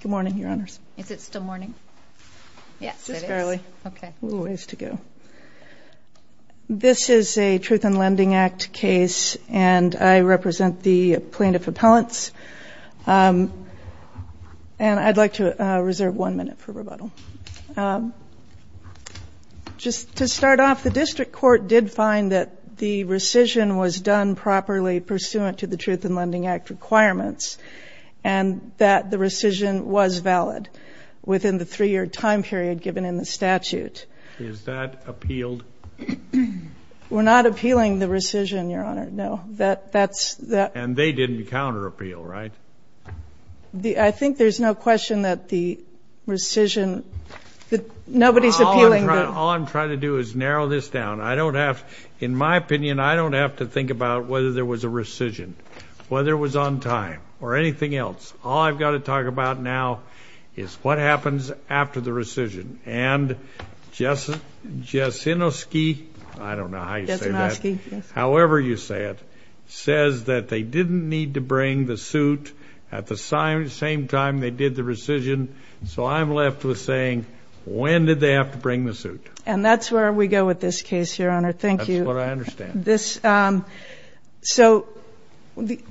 Good morning, Your Honors. Is it still morning? Yes, it is. Just barely. Okay. A little ways to go. This is a Truth in Lending Act case, and I represent the plaintiff appellants. And I'd like to reserve one minute for rebuttal. Just to start off, the district court did find that the rescission was done properly pursuant to the Truth in Lending Act requirements, and that the rescission was valid within the three-year time period given in the statute. Is that appealed? We're not appealing the rescission, Your Honor, no. And they didn't counter-appeal, right? I think there's no question that the rescission – nobody's appealing the – All I'm trying to do is narrow this down. In my opinion, I don't have to think about whether there was a rescission, whether it was on time, or anything else. All I've got to talk about now is what happens after the rescission. And Jasinoski – I don't know how you say that. Jasinoski, yes. However you say it, says that they didn't need to bring the suit at the same time they did the rescission. So I'm left with saying, when did they have to bring the suit? And that's where we go with this case, Your Honor. Thank you. That's what I understand. So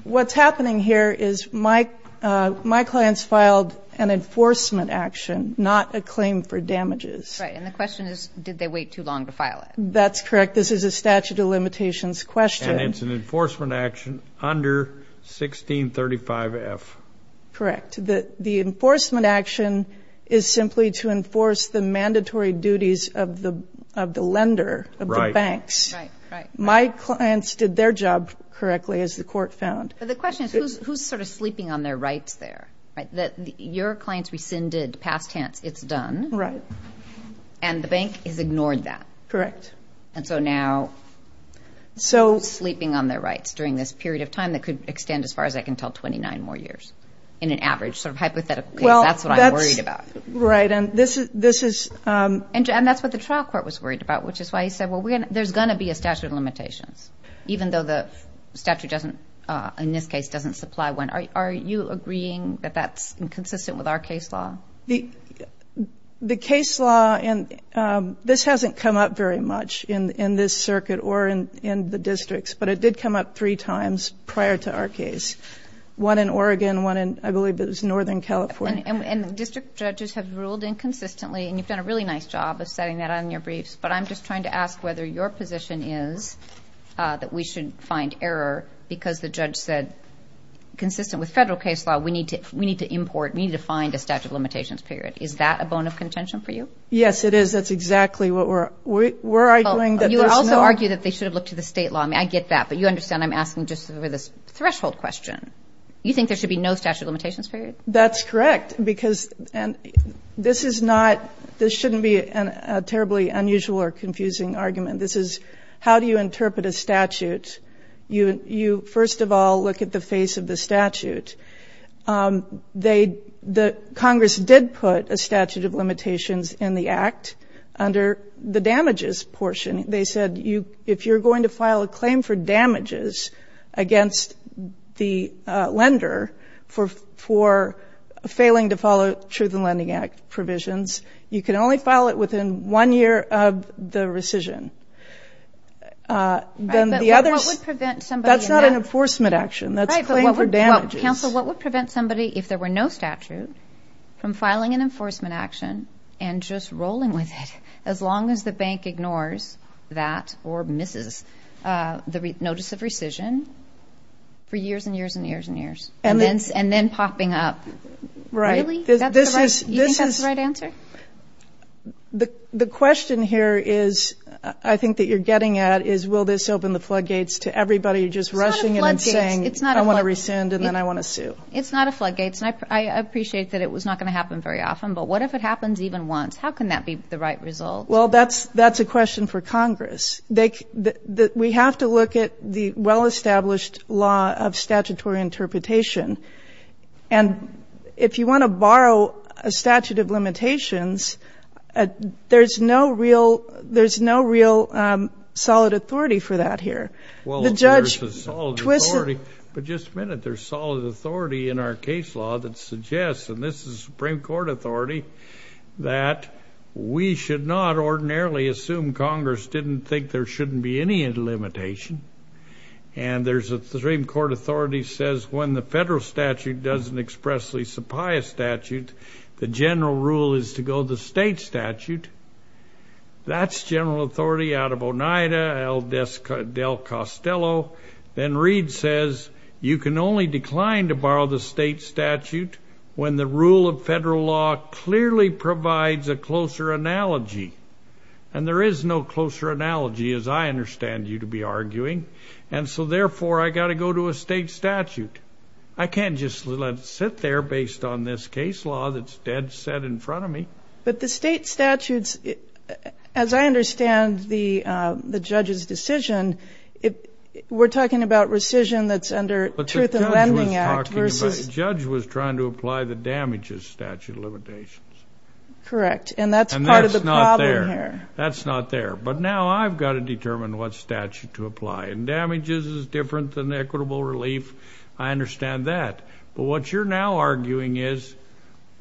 what's happening here is my clients filed an enforcement action, not a claim for damages. Right. And the question is, did they wait too long to file it? That's correct. This is a statute of limitations question. And it's an enforcement action under 1635F. Correct. The enforcement action is simply to enforce the mandatory duties of the lender, of the banks. Right, right. My clients did their job correctly, as the Court found. But the question is, who's sort of sleeping on their rights there? Your clients rescinded past tense, it's done. Right. And the bank has ignored that. Correct. And so now who's sleeping on their rights during this period of time that could extend, as far as I can tell, 29 more years? In an average sort of hypothetical case, that's what I'm worried about. Right. And this is – And that's what the trial court was worried about, which is why he said, well, there's going to be a statute of limitations, even though the statute doesn't, in this case, doesn't supply one. Are you agreeing that that's inconsistent with our case law? The case law, and this hasn't come up very much in this circuit or in the districts, but it did come up three times prior to our case, one in Oregon, one in, I believe it was Northern California. And district judges have ruled inconsistently, and you've done a really nice job of setting that on your briefs, but I'm just trying to ask whether your position is that we should find error because the judge said, consistent with federal case law, we need to import, we need to find a statute of limitations period. Is that a bone of contention for you? Yes, it is. That's exactly what we're arguing. You also argue that they should have looked at the state law. I mean, I get that, but you understand I'm asking just for this threshold question. You think there should be no statute of limitations period? That's correct, because this is not, this shouldn't be a terribly unusual or confusing argument. This is, how do you interpret a statute? You first of all look at the face of the statute. Congress did put a statute of limitations in the Act under the damages portion. They said, if you're going to file a claim for damages against the lender for failing to follow Truth in Lending Act provisions, you can only file it within one year of the rescission. Then the others, that's not an enforcement action. That's a claim for damages. Counsel, what would prevent somebody, if there were no statute, from filing an enforcement action and just rolling with it as long as the bank ignores that or misses the notice of rescission for years and years and years and then popping up? Right. Really? You think that's the right answer? The question here is, I think that you're getting at, is will this open the floodgates to everybody just rushing in and saying, I want to rescind and then I want to sue. It's not a floodgate. I appreciate that it was not going to happen very often, but what if it happens even once? How can that be the right result? Well, that's a question for Congress. We have to look at the well-established law of statutory interpretation. And if you want to borrow a statute of limitations, there's no real solid authority for that here. Well, there's a solid authority. But just a minute, there's solid authority in our case law that suggests, and this is Supreme Court authority, that we should not ordinarily assume Congress didn't think there shouldn't be any limitation. And the Supreme Court authority says when the federal statute doesn't expressly supply a statute, the general rule is to go the state statute. That's general authority out of Oneida, Del Costello. Then Reed says you can only decline to borrow the state statute when the rule of federal law clearly provides a closer analogy. And there is no closer analogy, as I understand you to be arguing. And so, therefore, I got to go to a state statute. I can't just let it sit there based on this case law that's dead set in front of me. But the state statutes, as I understand the judge's decision, we're talking about rescission that's under Truth in Lending Act. But the judge was trying to apply the damages statute of limitations. Correct, and that's part of the problem here. And that's not there. That's not there. But now I've got to determine what statute to apply. And damages is different than equitable relief. I understand that. But what you're now arguing is,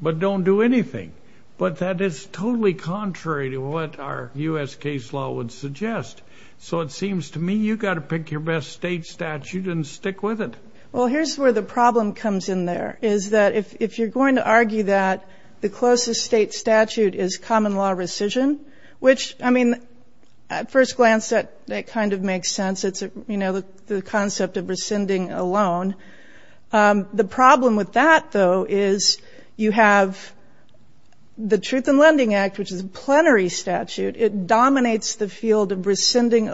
but don't do anything. But that is totally contrary to what our U.S. case law would suggest. So it seems to me you've got to pick your best state statute and stick with it. Well, here's where the problem comes in there, is that if you're going to argue that the closest state statute is common law rescission, which, I mean, at first glance that kind of makes sense. It's, you know, the concept of rescinding a loan. The problem with that, though, is you have the Truth in Lending Act, which is a plenary statute. It dominates the field of rescinding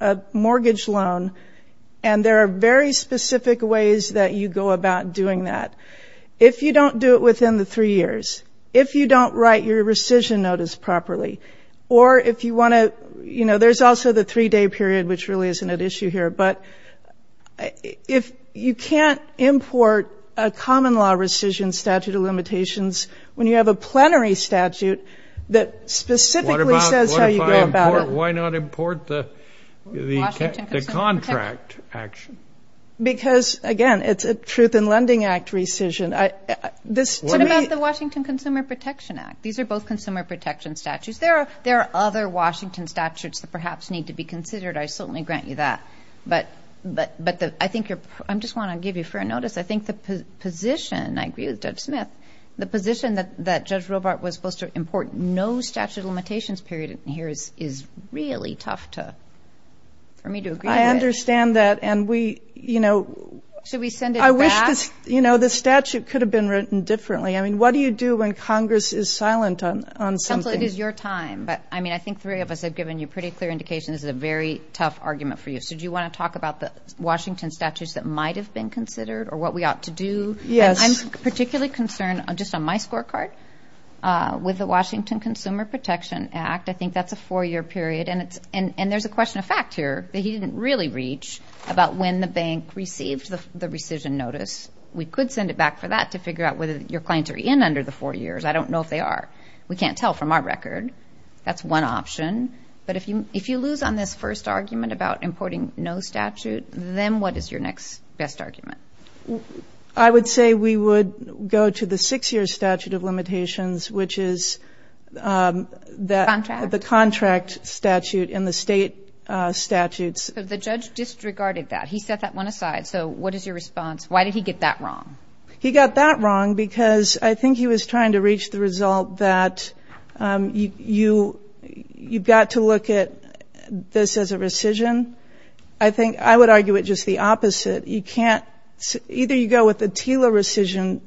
a mortgage loan. And there are very specific ways that you go about doing that. If you don't do it within the three years, if you don't write your rescission notice properly, or if you want to, you know, there's also the three-day period, which really isn't at issue here. But if you can't import a common law rescission statute of limitations, when you have a plenary statute that specifically says how you go about it. Why not import the contract action? Because, again, it's a Truth in Lending Act rescission. What about the Washington Consumer Protection Act? These are both consumer protection statutes. There are other Washington statutes that perhaps need to be considered. I certainly grant you that. But I just want to give you fair notice. I think the position, I agree with Judge Smith, the position that Judge Robart was supposed to import no statute of limitations period is really tough for me to agree with. I understand that, and we, you know, I wish, you know, the statute could have been written differently. I mean, what do you do when Congress is silent on something? Counsel, it is your time. But, I mean, I think three of us have given you pretty clear indication this is a very tough argument for you. So do you want to talk about the Washington statutes that might have been considered or what we ought to do? Yes. I'm particularly concerned, just on my scorecard, with the Washington Consumer Protection Act. I think that's a four-year period. And there's a question of fact here that he didn't really reach about when the bank received the rescission notice. We could send it back for that to figure out whether your clients are in under the four years. I don't know if they are. We can't tell from our record. That's one option. But if you lose on this first argument about importing no statute, then what is your next best argument? I would say we would go to the six-year statute of limitations, which is the contract statute and the state statutes. But the judge disregarded that. He set that one aside. So what is your response? Why did he get that wrong? He got that wrong because I think he was trying to reach the result that you've got to look at this as a rescission. I think I would argue it just the opposite. You can't ‑‑ either you go with the TILA rescission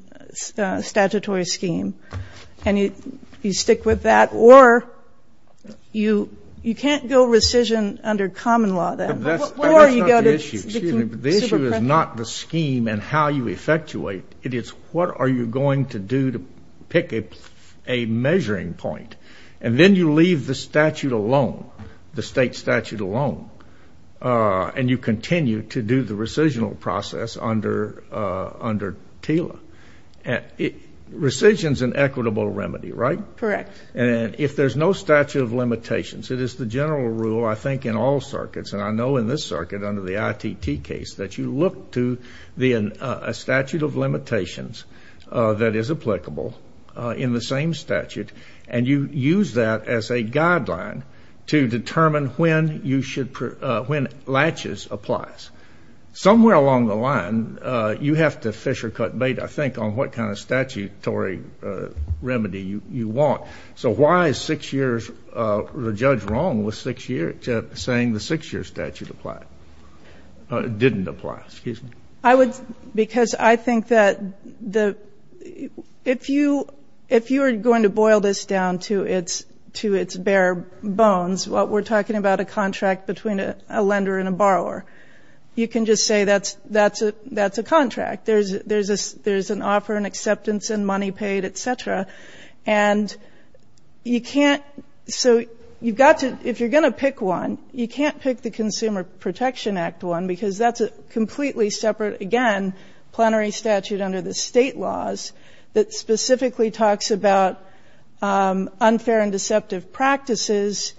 statutory scheme and you stick with that, or you can't go rescission under common law then. Or you go to the consumer protection. But that's not the issue. The issue is not the scheme and how you effectuate. It is what are you going to do to pick a measuring point. And then you leave the statute alone, the state statute alone, and you continue to do the rescission process under TILA. Rescission is an equitable remedy, right? Correct. And if there's no statute of limitations, it is the general rule, I think, in all circuits, and I know in this circuit under the ITT case that you look to a statute of limitations that is applicable in the same statute, and you use that as a guideline to determine when you should ‑‑ when latches applies. Somewhere along the line, you have to fish or cut bait, I think, on what kind of statutory remedy you want. So why is six years ‑‑ the judge wrong with six years, saying the six‑year statute didn't apply? I would ‑‑ because I think that the ‑‑ if you are going to boil this down to its bare bones, what we're talking about a contract between a lender and a borrower, you can just say that's a contract. There's an offer and acceptance and money paid, et cetera. And you can't ‑‑ so you've got to ‑‑ if you're going to pick one, you can't pick the Consumer Protection Act one because that's a completely separate, again, plenary statute under the state laws that specifically talks about unfair and deceptive practices.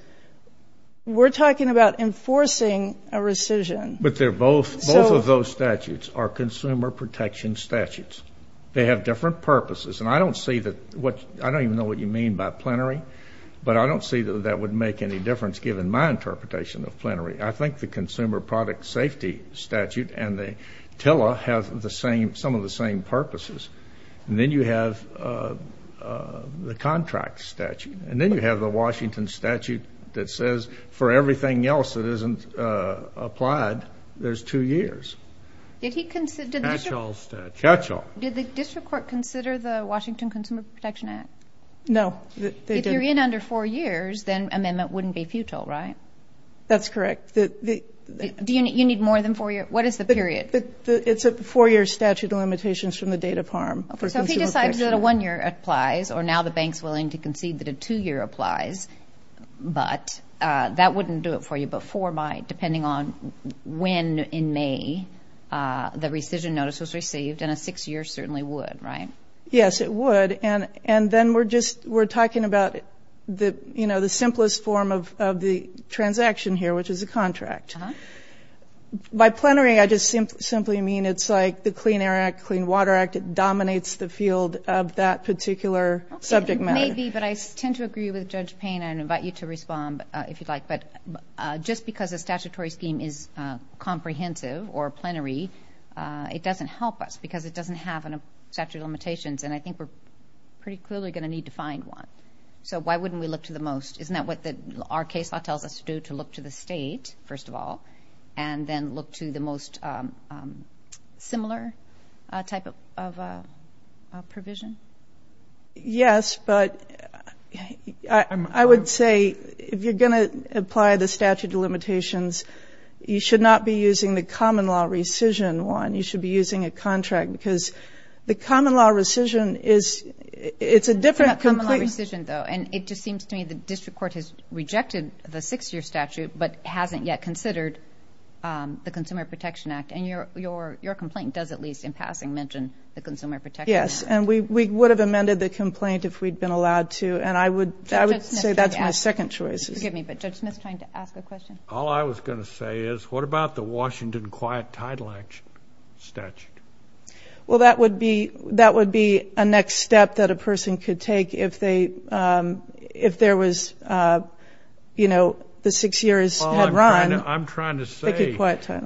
We're talking about enforcing a rescission. But they're both ‑‑ both of those statutes are consumer protection statutes. They have different purposes. And I don't see that ‑‑ I don't even know what you mean by plenary, but I don't see that that would make any difference, given my interpretation of plenary. I think the Consumer Product Safety Statute and the TILA have the same ‑‑ some of the same purposes. And then you have the contract statute. And then you have the Washington statute that says for everything else that isn't applied, there's two years. Did he consider ‑‑ Catchall statute. Catchall. Did the district court consider the Washington Consumer Protection Act? No. If you're in under four years, then amendment wouldn't be futile, right? That's correct. Do you need more than four years? What is the period? It's a four‑year statute of limitations from the date of harm. Okay. So if he decides that a one‑year applies, or now the bank's willing to concede that a two‑year applies, but that wouldn't do it for you, but four might, depending on when in May the rescission notice was received. And a six‑year certainly would, right? Yes, it would. And then we're just ‑‑ we're talking about, you know, the simplest form of the transaction here, which is a contract. Uh‑huh. By plenary, I just simply mean it's like the Clean Air Act, Clean Water Act. It dominates the field of that particular subject matter. Okay. It may be, but I tend to agree with Judge Payne, and I invite you to respond if you'd like. But just because a statutory scheme is comprehensive or plenary, it doesn't help us because it doesn't have statute of limitations. And I think we're pretty clearly going to need to find one. So why wouldn't we look to the most? Isn't that what our case law tells us to do, to look to the state, first of all, and then look to the most similar type of provision? Yes, but I would say if you're going to apply the statute of limitations, you should not be using the common law rescission one. You should be using a contract because the common law rescission is ‑‑ It's a different complete ‑‑ It's not common law rescission, though, and it just seems to me the district court has rejected the six‑year statute but hasn't yet considered the Consumer Protection Act. And your complaint does at least in passing mention the Consumer Protection Act. Yes, and we would have amended the complaint if we'd been allowed to, and I would say that's my second choice. Forgive me, but Judge Smith is trying to ask a question. All I was going to say is what about the Washington quiet title statute? Well, that would be a next step that a person could take if there was, you know, the six years had run. I'm trying to say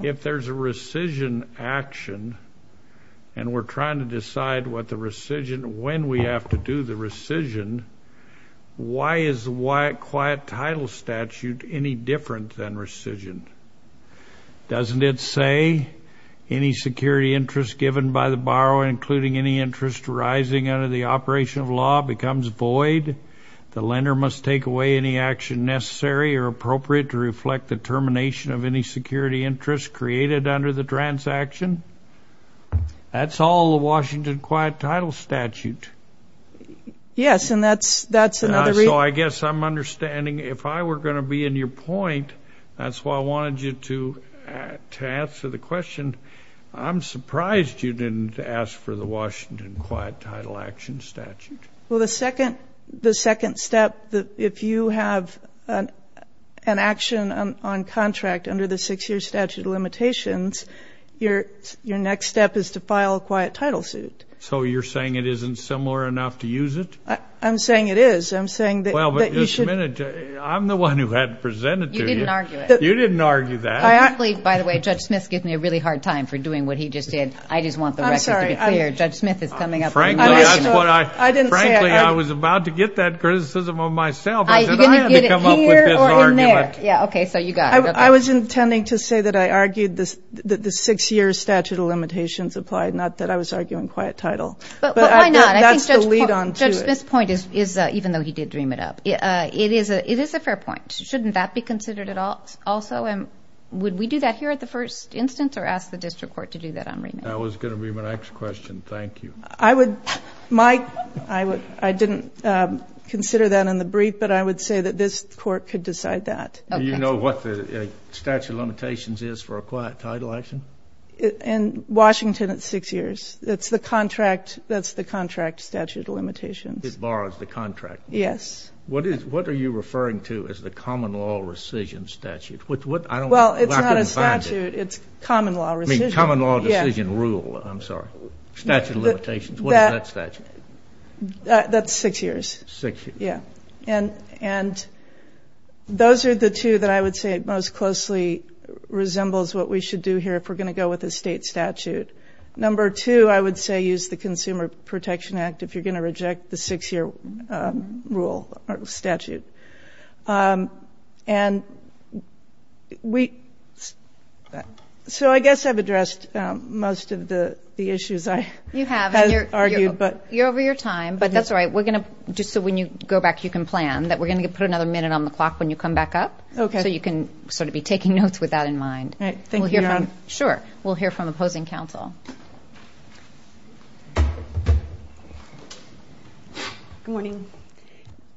if there's a rescission action and we're trying to decide when we have to do the rescission, why is the quiet title statute any different than rescission? Doesn't it say any security interest given by the borrower, including any interest arising under the operation of law, becomes void? The lender must take away any action necessary or appropriate to reflect the termination of any security interest created under the transaction? That's all the Washington quiet title statute. Yes, and that's another reason. So I guess I'm understanding if I were going to be in your point, that's why I wanted you to answer the question. I'm surprised you didn't ask for the Washington quiet title action statute. Well, the second step, if you have an action on contract under the six-year statute of limitations, your next step is to file a quiet title suit. So you're saying it isn't similar enough to use it? I'm saying it is. I'm saying that you should. Well, but just a minute. I'm the one who had to present it to you. You didn't argue it. You didn't argue that. By the way, Judge Smith's giving me a really hard time for doing what he just did. I just want the record to be clear. Judge Smith is coming up. Frankly, I was about to get that criticism of myself. I said I had to come up with this argument. Yeah, okay, so you got it. I was intending to say that I argued that the six-year statute of limitations applied, not that I was arguing quiet title. But why not? That's the lead-on to it. Judge Smith's point is, even though he did dream it up, it is a fair point. Shouldn't that be considered also? Would we do that here at the first instance or ask the district court to do that on remand? That was going to be my next question. Thank you. I didn't consider that in the brief, but I would say that this court could decide that. Do you know what the statute of limitations is for a quiet title action? In Washington, it's six years. That's the contract statute of limitations. It borrows the contract. Yes. What are you referring to as the common law rescission statute? Well, it's not a statute. It's common law rescission. I mean, common law decision rule, I'm sorry. Statute of limitations. What is that statute? That's six years. Six years. Yeah. And those are the two that I would say most closely resembles what we should do here if we're going to go with a state statute. Number two, I would say use the Consumer Protection Act if you're going to reject the six-year rule or statute. And so I guess I've addressed most of the issues I have argued. You have. You're over your time, but that's all right. Just so when you go back, you can plan, that we're going to put another minute on the clock when you come back up. Okay. So you can sort of be taking notes with that in mind. All right. Thank you. Sure. We'll hear from opposing counsel. Good morning.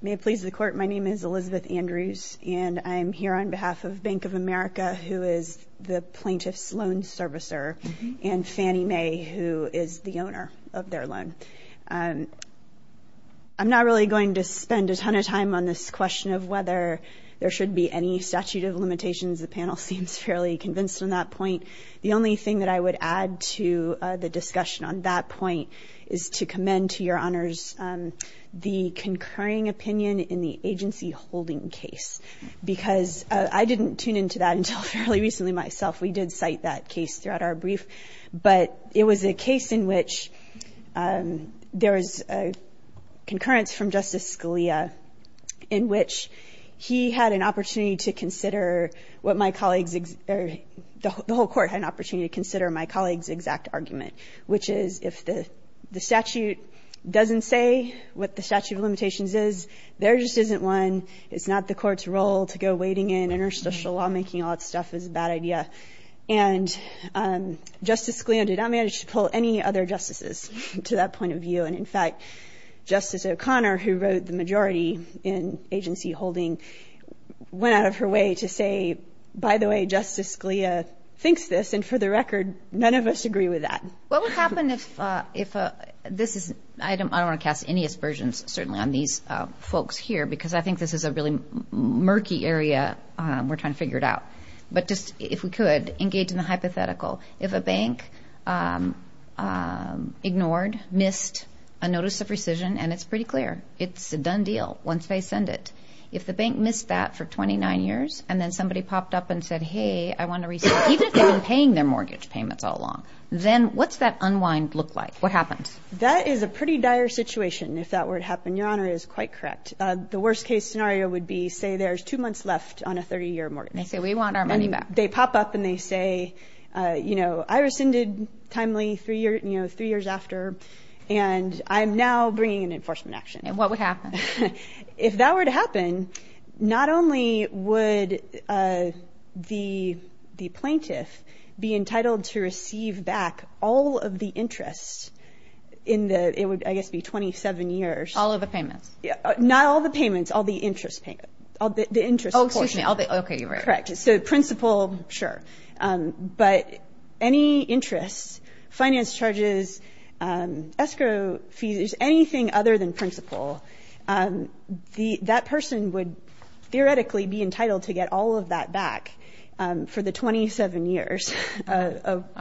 May it please the Court, my name is Elizabeth Andrews, and I'm here on behalf of Bank of America, who is the plaintiff's loan servicer, and Fannie Mae, who is the owner of their loan. I'm not really going to spend a ton of time on this question of whether there should be any statute of limitations. The panel seems fairly convinced on that point. The only thing that I would add to the discussion on that point is to commend to your honors the concurring opinion in the agency holding case, because I didn't tune into that until fairly recently myself. We did cite that case throughout our brief. But it was a case in which there was a concurrence from Justice Scalia in which he had an opportunity to consider what my colleagues or the whole Court had an opportunity to consider my colleague's exact argument, which is if the statute doesn't say what the statute of limitations is, there just isn't one. It's not the Court's role to go wading in interstitial lawmaking. All that stuff is a bad idea. And Justice Scalia did not manage to pull any other justices to that point of view. And, in fact, Justice O'Connor, who wrote the majority in agency holding, went out of her way to say, by the way, Justice Scalia thinks this, and for the record, none of us agree with that. What would happen if this is ‑‑ I don't want to cast any aspersions, certainly, on these folks here, because I think this is a really murky area we're trying to figure it out. But just, if we could, engage in the hypothetical. If a bank ignored, missed a notice of rescission, and it's pretty clear, it's a done deal once they send it. If the bank missed that for 29 years and then somebody popped up and said, hey, I want to rescind, even if they've been paying their mortgage payments all along, then what's that unwind look like? What happens? That is a pretty dire situation if that were to happen. Your Honor is quite correct. The worst case scenario would be, say, there's two months left on a 30‑year mortgage. They say, we want our money back. And they pop up and they say, you know, I rescinded timely three years after, and I'm now bringing an enforcement action. And what would happen? If that were to happen, not only would the plaintiff be entitled to receive back all of the interest in the ‑‑ it would, I guess, be 27 years. All of the payments? Not all the payments. All the interest payments. Oh, excuse me. Okay, you're right. Correct. So principal, sure. But any interest, finance charges, escrow fees, anything other than principal, that person would theoretically be entitled to get all of that back for the 27 years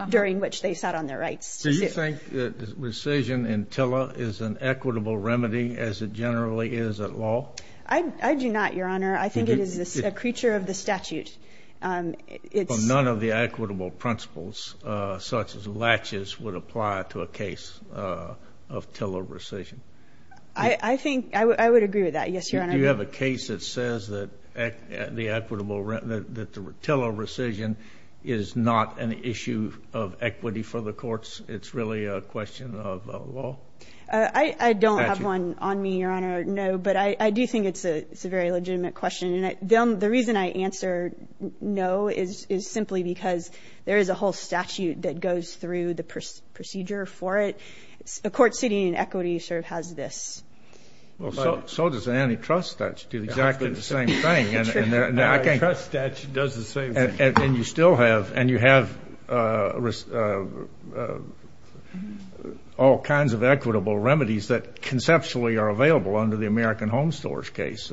during which they sat on their rights. Do you think rescission in TILA is an equitable remedy as it generally is at law? I do not, Your Honor. I think it is a creature of the statute. Well, none of the equitable principles such as latches would apply to a case of TILA rescission. I think ‑‑ I would agree with that, yes, Your Honor. Do you have a case that says that the equitable ‑‑ that the TILA rescission is not an issue of equity for the courts? It's really a question of law? I don't have one on me, Your Honor, no. But I do think it's a very legitimate question. And the reason I answer no is simply because there is a whole statute that goes through the procedure for it. A court sitting in equity sort of has this. Well, so does an antitrust statute do exactly the same thing. True. An antitrust statute does the same thing. And you still have ‑‑ and you have all kinds of equitable remedies that conceptually are available under the American Home Stores case.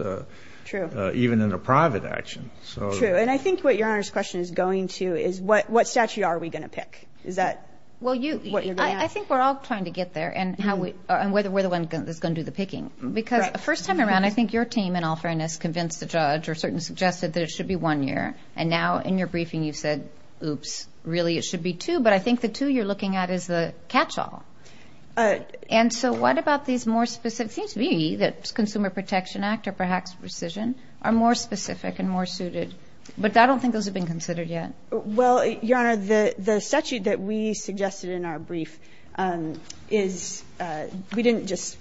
True. Even in a private action. True. And I think what Your Honor's question is going to is what statute are we going to pick? Is that what you're going to ask? Well, you ‑‑ I think we're all trying to get there and whether we're the one that's going to do the picking. Because the first time around, I think your team, in all fairness, convinced the judge or certain suggested that it should be one year. And now in your briefing you've said, oops, really it should be two. But I think the two you're looking at is the catchall. And so what about these more specific ‑‑ it seems to me that Consumer Protection Act or perhaps precision are more specific and more suited. But I don't think those have been considered yet. Well, Your Honor, the statute that we suggested in our brief is ‑‑ we didn't just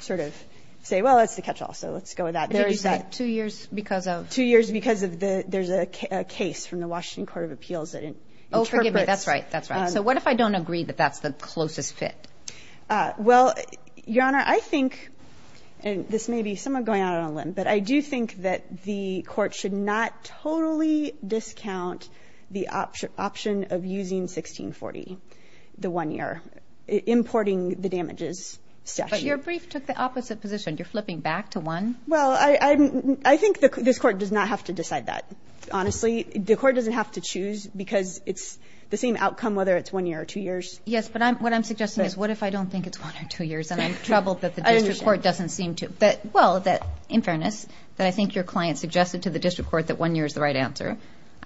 sort of say, well, that's the catchall, so let's go with that. There is that ‑‑ Two years because of ‑‑ Two years because of the ‑‑ there's a case from the Washington Court of Appeals that interprets ‑‑ Oh, forgive me. That's right. That's right. So what if I don't agree that that's the closest fit? Well, Your Honor, I think, and this may be somewhat going out on a limb, but I do think that the court should not totally discount the option of using 1640, the one year, importing the damages statute. But your brief took the opposite position. You're flipping back to one? Well, I think this court does not have to decide that, honestly. The court doesn't have to choose because it's the same outcome whether it's one year or two years. Yes, but what I'm suggesting is what if I don't think it's one or two years and I'm troubled that the district court doesn't seem to? Well, in fairness, I think your client suggested to the district court that one year is the right answer.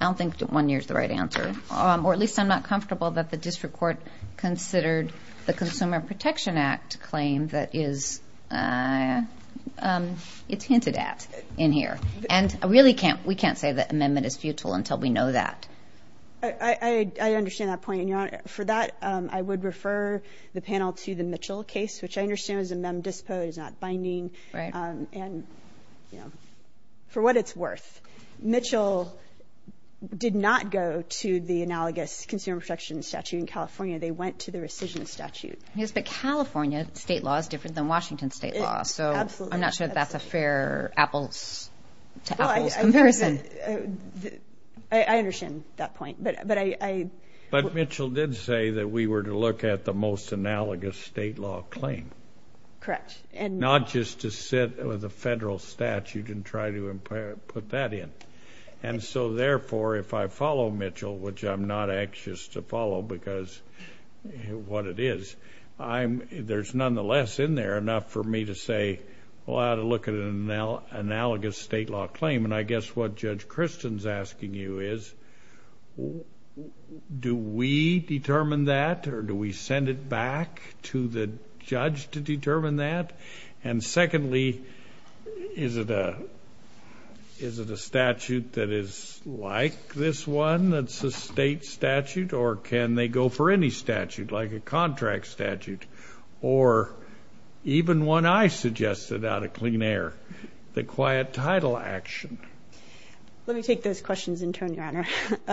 I don't think one year is the right answer. Or at least I'm not comfortable that the district court considered the Consumer Protection Act claim that is hinted at in here. And really, we can't say that amendment is futile until we know that. I understand that point. And, Your Honor, for that, I would refer the panel to the Mitchell case, which I understand is a mem dispo, is not binding. Right. And, you know, for what it's worth, Mitchell did not go to the analogous Consumer Protection statute in California. They went to the rescission statute. Yes, but California state law is different than Washington state law. So I'm not sure that's a fair apples-to-apples comparison. I understand that point. But Mitchell did say that we were to look at the most analogous state law claim. Correct. Not just to sit with a federal statute and try to put that in. And so, therefore, if I follow Mitchell, which I'm not anxious to follow because what it is, there's nonetheless in there enough for me to say, well, I ought to look at an analogous state law claim. And I guess what Judge Christen's asking you is, do we determine that or do we send it back to the judge to determine that? And secondly, is it a statute that is like this one that's a state statute? Or can they go for any statute, like a contract statute, or even one I suggested out of clean air, the quiet title action? Let me take those questions in turn, Your Honor.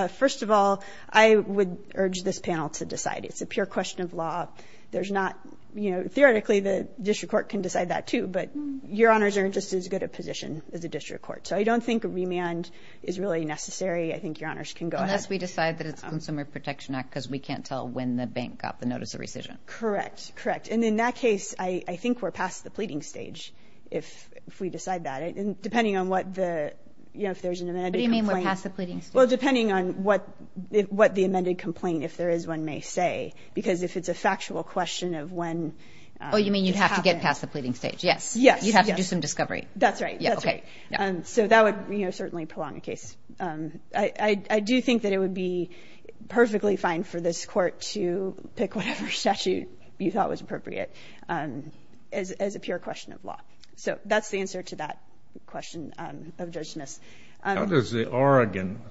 First of all, I would urge this panel to decide. It's a pure question of law. There's not, you know, theoretically the district court can decide that, too. But Your Honors are just as good a position as the district court. So I don't think a remand is really necessary. I think Your Honors can go ahead. I guess we decide that it's Consumer Protection Act because we can't tell when the bank got the notice of rescission. Correct. Correct. And in that case, I think we're past the pleading stage if we decide that. And depending on what the, you know, if there's an amended complaint. What do you mean we're past the pleading stage? Well, depending on what the amended complaint, if there is one, may say. Because if it's a factual question of when it's happened. Oh, you mean you'd have to get past the pleading stage, yes. Yes. You'd have to do some discovery. That's right. That's right. So that would, you know, certainly prolong the case. I do think that it would be perfectly fine for this court to pick whatever statute you thought was appropriate as a pure question of law. So that's the answer to that question of Judge Smith's. How does the Oregon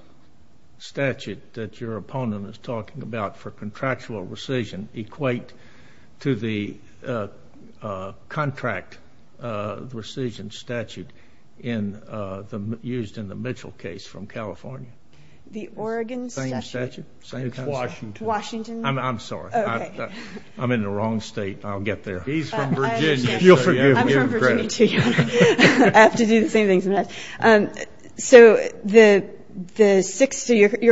statute that your opponent is talking about for contractual rescission equate to the contract rescission statute used in the Mitchell case from California? The Oregon statute? Same statute. It's Washington. Washington. I'm sorry. I'm in the wrong state. I'll get there. He's from Virginia. I understand. I'm from Virginia, too. I have to do the same thing sometimes. So your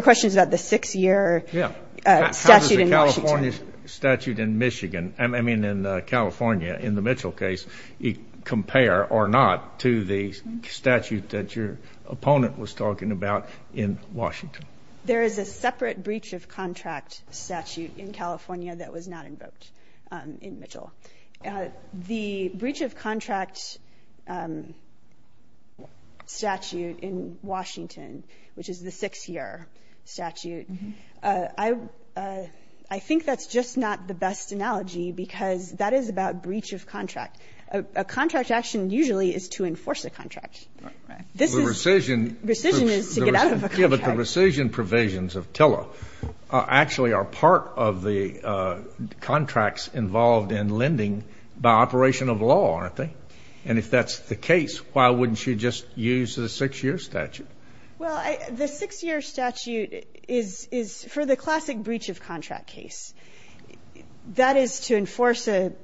question is about the six-year statute in Washington. Yeah. How does the California statute in Michigan, I mean in California in the Mitchell case, compare or not to the statute that your opponent was talking about in Washington? There is a separate breach of contract statute in California that was not invoked in Mitchell. The breach of contract statute in Washington, which is the six-year statute, I think that's just not the best analogy because that is about breach of contract. A contract action usually is to enforce a contract. Right. Right. The rescission is to get out of a contract. But let's give it the rescission provisions of TILA actually are part of the contracts involved in lending by operation of law, aren't they? And if that's the case, why wouldn't you just use the six-year statute? Well, the six-year statute is for the classic breach of contract case. That is to enforce an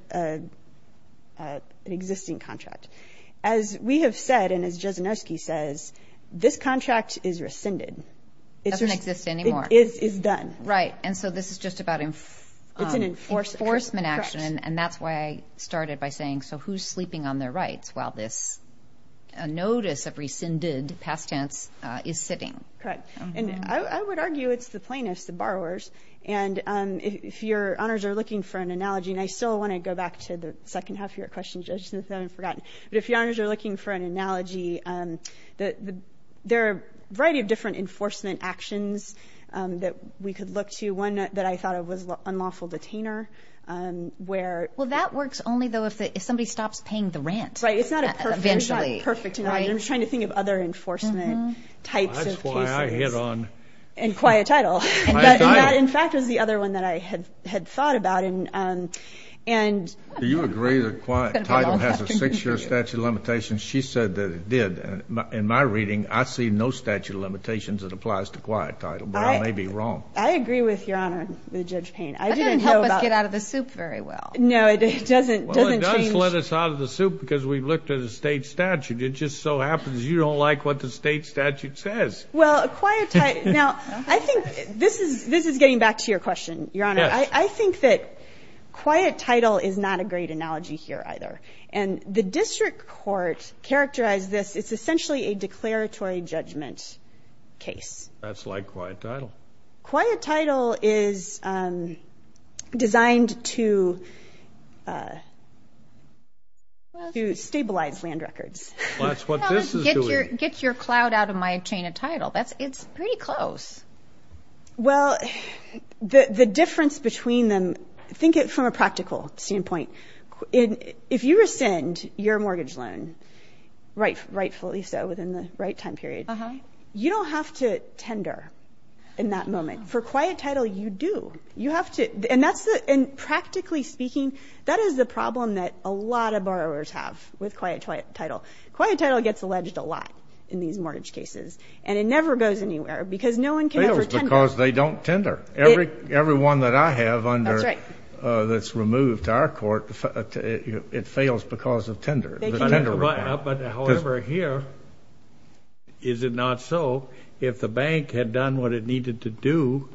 existing contract. As we have said and as Jezinoski says, this contract is rescinded. It doesn't exist anymore. It is done. Right. And so this is just about enforcement action. And that's why I started by saying so who's sleeping on their rights while this notice of rescinded past tense is sitting? Correct. And I would argue it's the plaintiffs, the borrowers. And if your honors are looking for an analogy, and I still want to go back to the second half of your question, Judge Smith. I haven't forgotten. But if your honors are looking for an analogy, there are a variety of different enforcement actions that we could look to. One that I thought of was unlawful detainer. Well, that works only, though, if somebody stops paying the rent eventually. Right. It's not a perfect analogy. I'm just trying to think of other enforcement types of cases. That's why I hit on my title. In fact, it was the other one that I had thought about. Do you agree that quiet title has a six-year statute of limitations? She said that it did. In my reading, I see no statute of limitations that applies to quiet title. But I may be wrong. I agree with your honor, Judge Payne. That didn't help us get out of the soup very well. No, it doesn't change. Well, it does let us out of the soup because we looked at a state statute. It just so happens you don't like what the state statute says. Well, quiet title. Now, I think this is getting back to your question, Your Honor. I think that quiet title is not a great analogy here either. And the district court characterized this. It's essentially a declaratory judgment case. That's like quiet title. Quiet title is designed to stabilize land records. That's what this is doing. Get your clout out of my chain of title. It's pretty close. Well, the difference between them, think it from a practical standpoint. If you rescind your mortgage loan, rightfully so, within the right time period, you don't have to tender in that moment. For quiet title, you do. And practically speaking, that is the problem that a lot of borrowers have with quiet title. Quiet title gets alleged a lot in these mortgage cases, and it never goes anywhere because no one can ever tender. It fails because they don't tender. Every one that I have that's removed to our court, it fails because of tender. However, here, is it not so? If the bank had done what it needed to do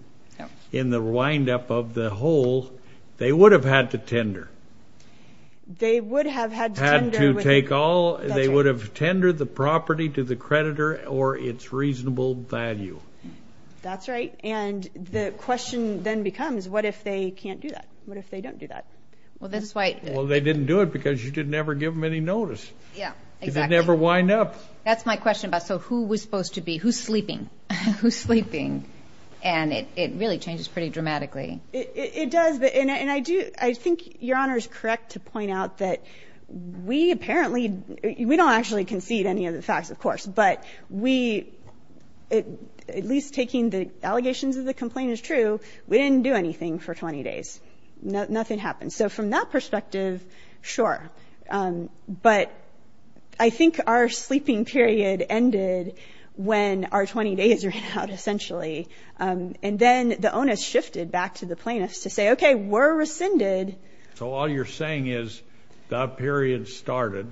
in the windup of the hole, they would have had to tender. They would have had to tender. They would have tendered the property to the creditor or its reasonable value. That's right. And the question then becomes, what if they can't do that? What if they don't do that? Well, they didn't do it because you didn't ever give them any notice. It didn't ever wind up. That's my question. So who was supposed to be? Who's sleeping? Who's sleeping? And it really changes pretty dramatically. It does. I think Your Honor is correct to point out that we apparently, we don't actually concede any of the facts, of course. But we, at least taking the allegations of the complaint as true, we didn't do anything for 20 days. Nothing happened. So from that perspective, sure. But I think our sleeping period ended when our 20 days ran out, essentially. And then the onus shifted back to the plaintiffs to say, okay, we're rescinded. So all you're saying is that period started,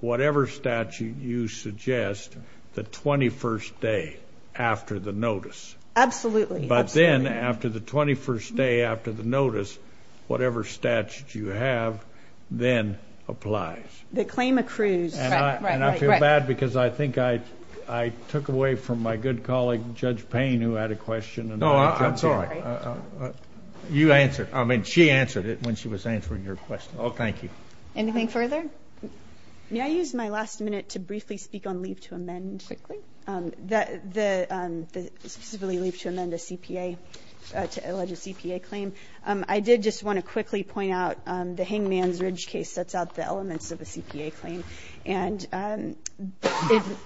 whatever statute you suggest, the 21st day after the notice. Absolutely. But then after the 21st day after the notice, whatever statute you have then applies. The claim accrues. And I feel bad because I think I took away from my good colleague, Judge Payne, who had a question. Oh, I'm sorry. You answered. I mean, she answered it when she was answering your question. Oh, thank you. Anything further? May I use my last minute to briefly speak on leave to amend? Quickly. Specifically leave to amend a CPA, to allege a CPA claim. I did just want to quickly point out the Hangman's Ridge case sets out the elements of a CPA claim. And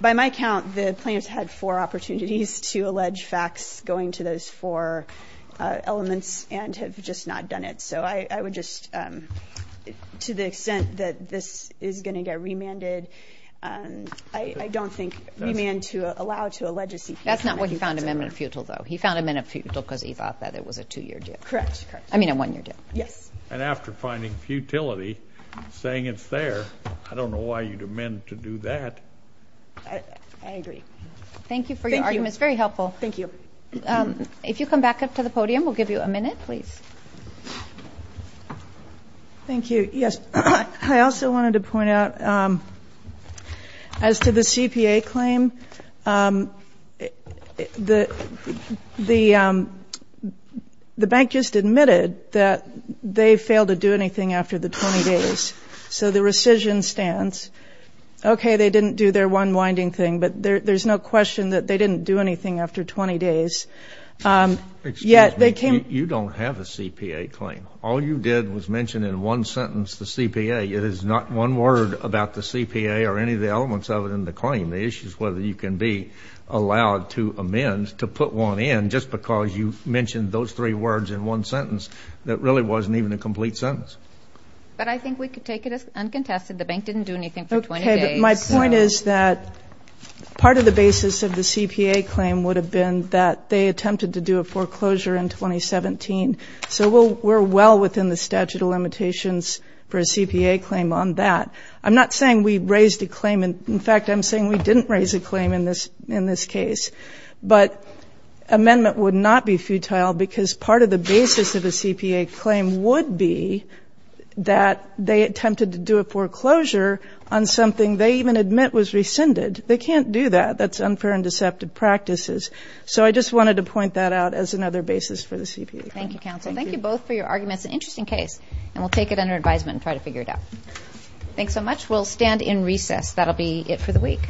by my count, the plaintiffs had four opportunities to allege facts going to those four elements and have just not done it. So I would just, to the extent that this is going to get remanded, I don't think remand to allow to allege a CPA. That's not why he found amendment futile, though. He found amendment futile because he thought that it was a two-year deal. Correct. I mean a one-year deal. Yes. And after finding futility, saying it's there, I don't know why you'd amend to do that. I agree. Thank you for your argument. It's very helpful. Thank you. If you come back up to the podium, we'll give you a minute, please. Thank you. Yes. I also wanted to point out as to the CPA claim, the bank just admitted that they failed to do anything after the 20 days. So the rescission stance, okay, they didn't do their one winding thing, but there's no question that they didn't do anything after 20 days. Excuse me. Yet they came. You don't have a CPA claim. All you did was mention in one sentence the CPA. It is not one word about the CPA or any of the elements of it in the claim. The issue is whether you can be allowed to amend to put one in just because you mentioned those three words in one sentence that really wasn't even a complete sentence. But I think we could take it as uncontested. The bank didn't do anything for 20 days. Okay. But my point is that part of the basis of the CPA claim would have been that they attempted to do a foreclosure in 2017. So we're well within the statute of limitations for a CPA claim on that. I'm not saying we raised a claim. In fact, I'm saying we didn't raise a claim in this case. But amendment would not be futile because part of the basis of a CPA claim would be that they attempted to do a foreclosure on something they even admit was rescinded. They can't do that. That's unfair and deceptive practices. So I just wanted to point that out as another basis for the CPA claim. Thank you, counsel. Thank you both for your arguments. An interesting case. And we'll take it under advisement and try to figure it out. Thanks so much. We'll stand in recess. That'll be it for the week.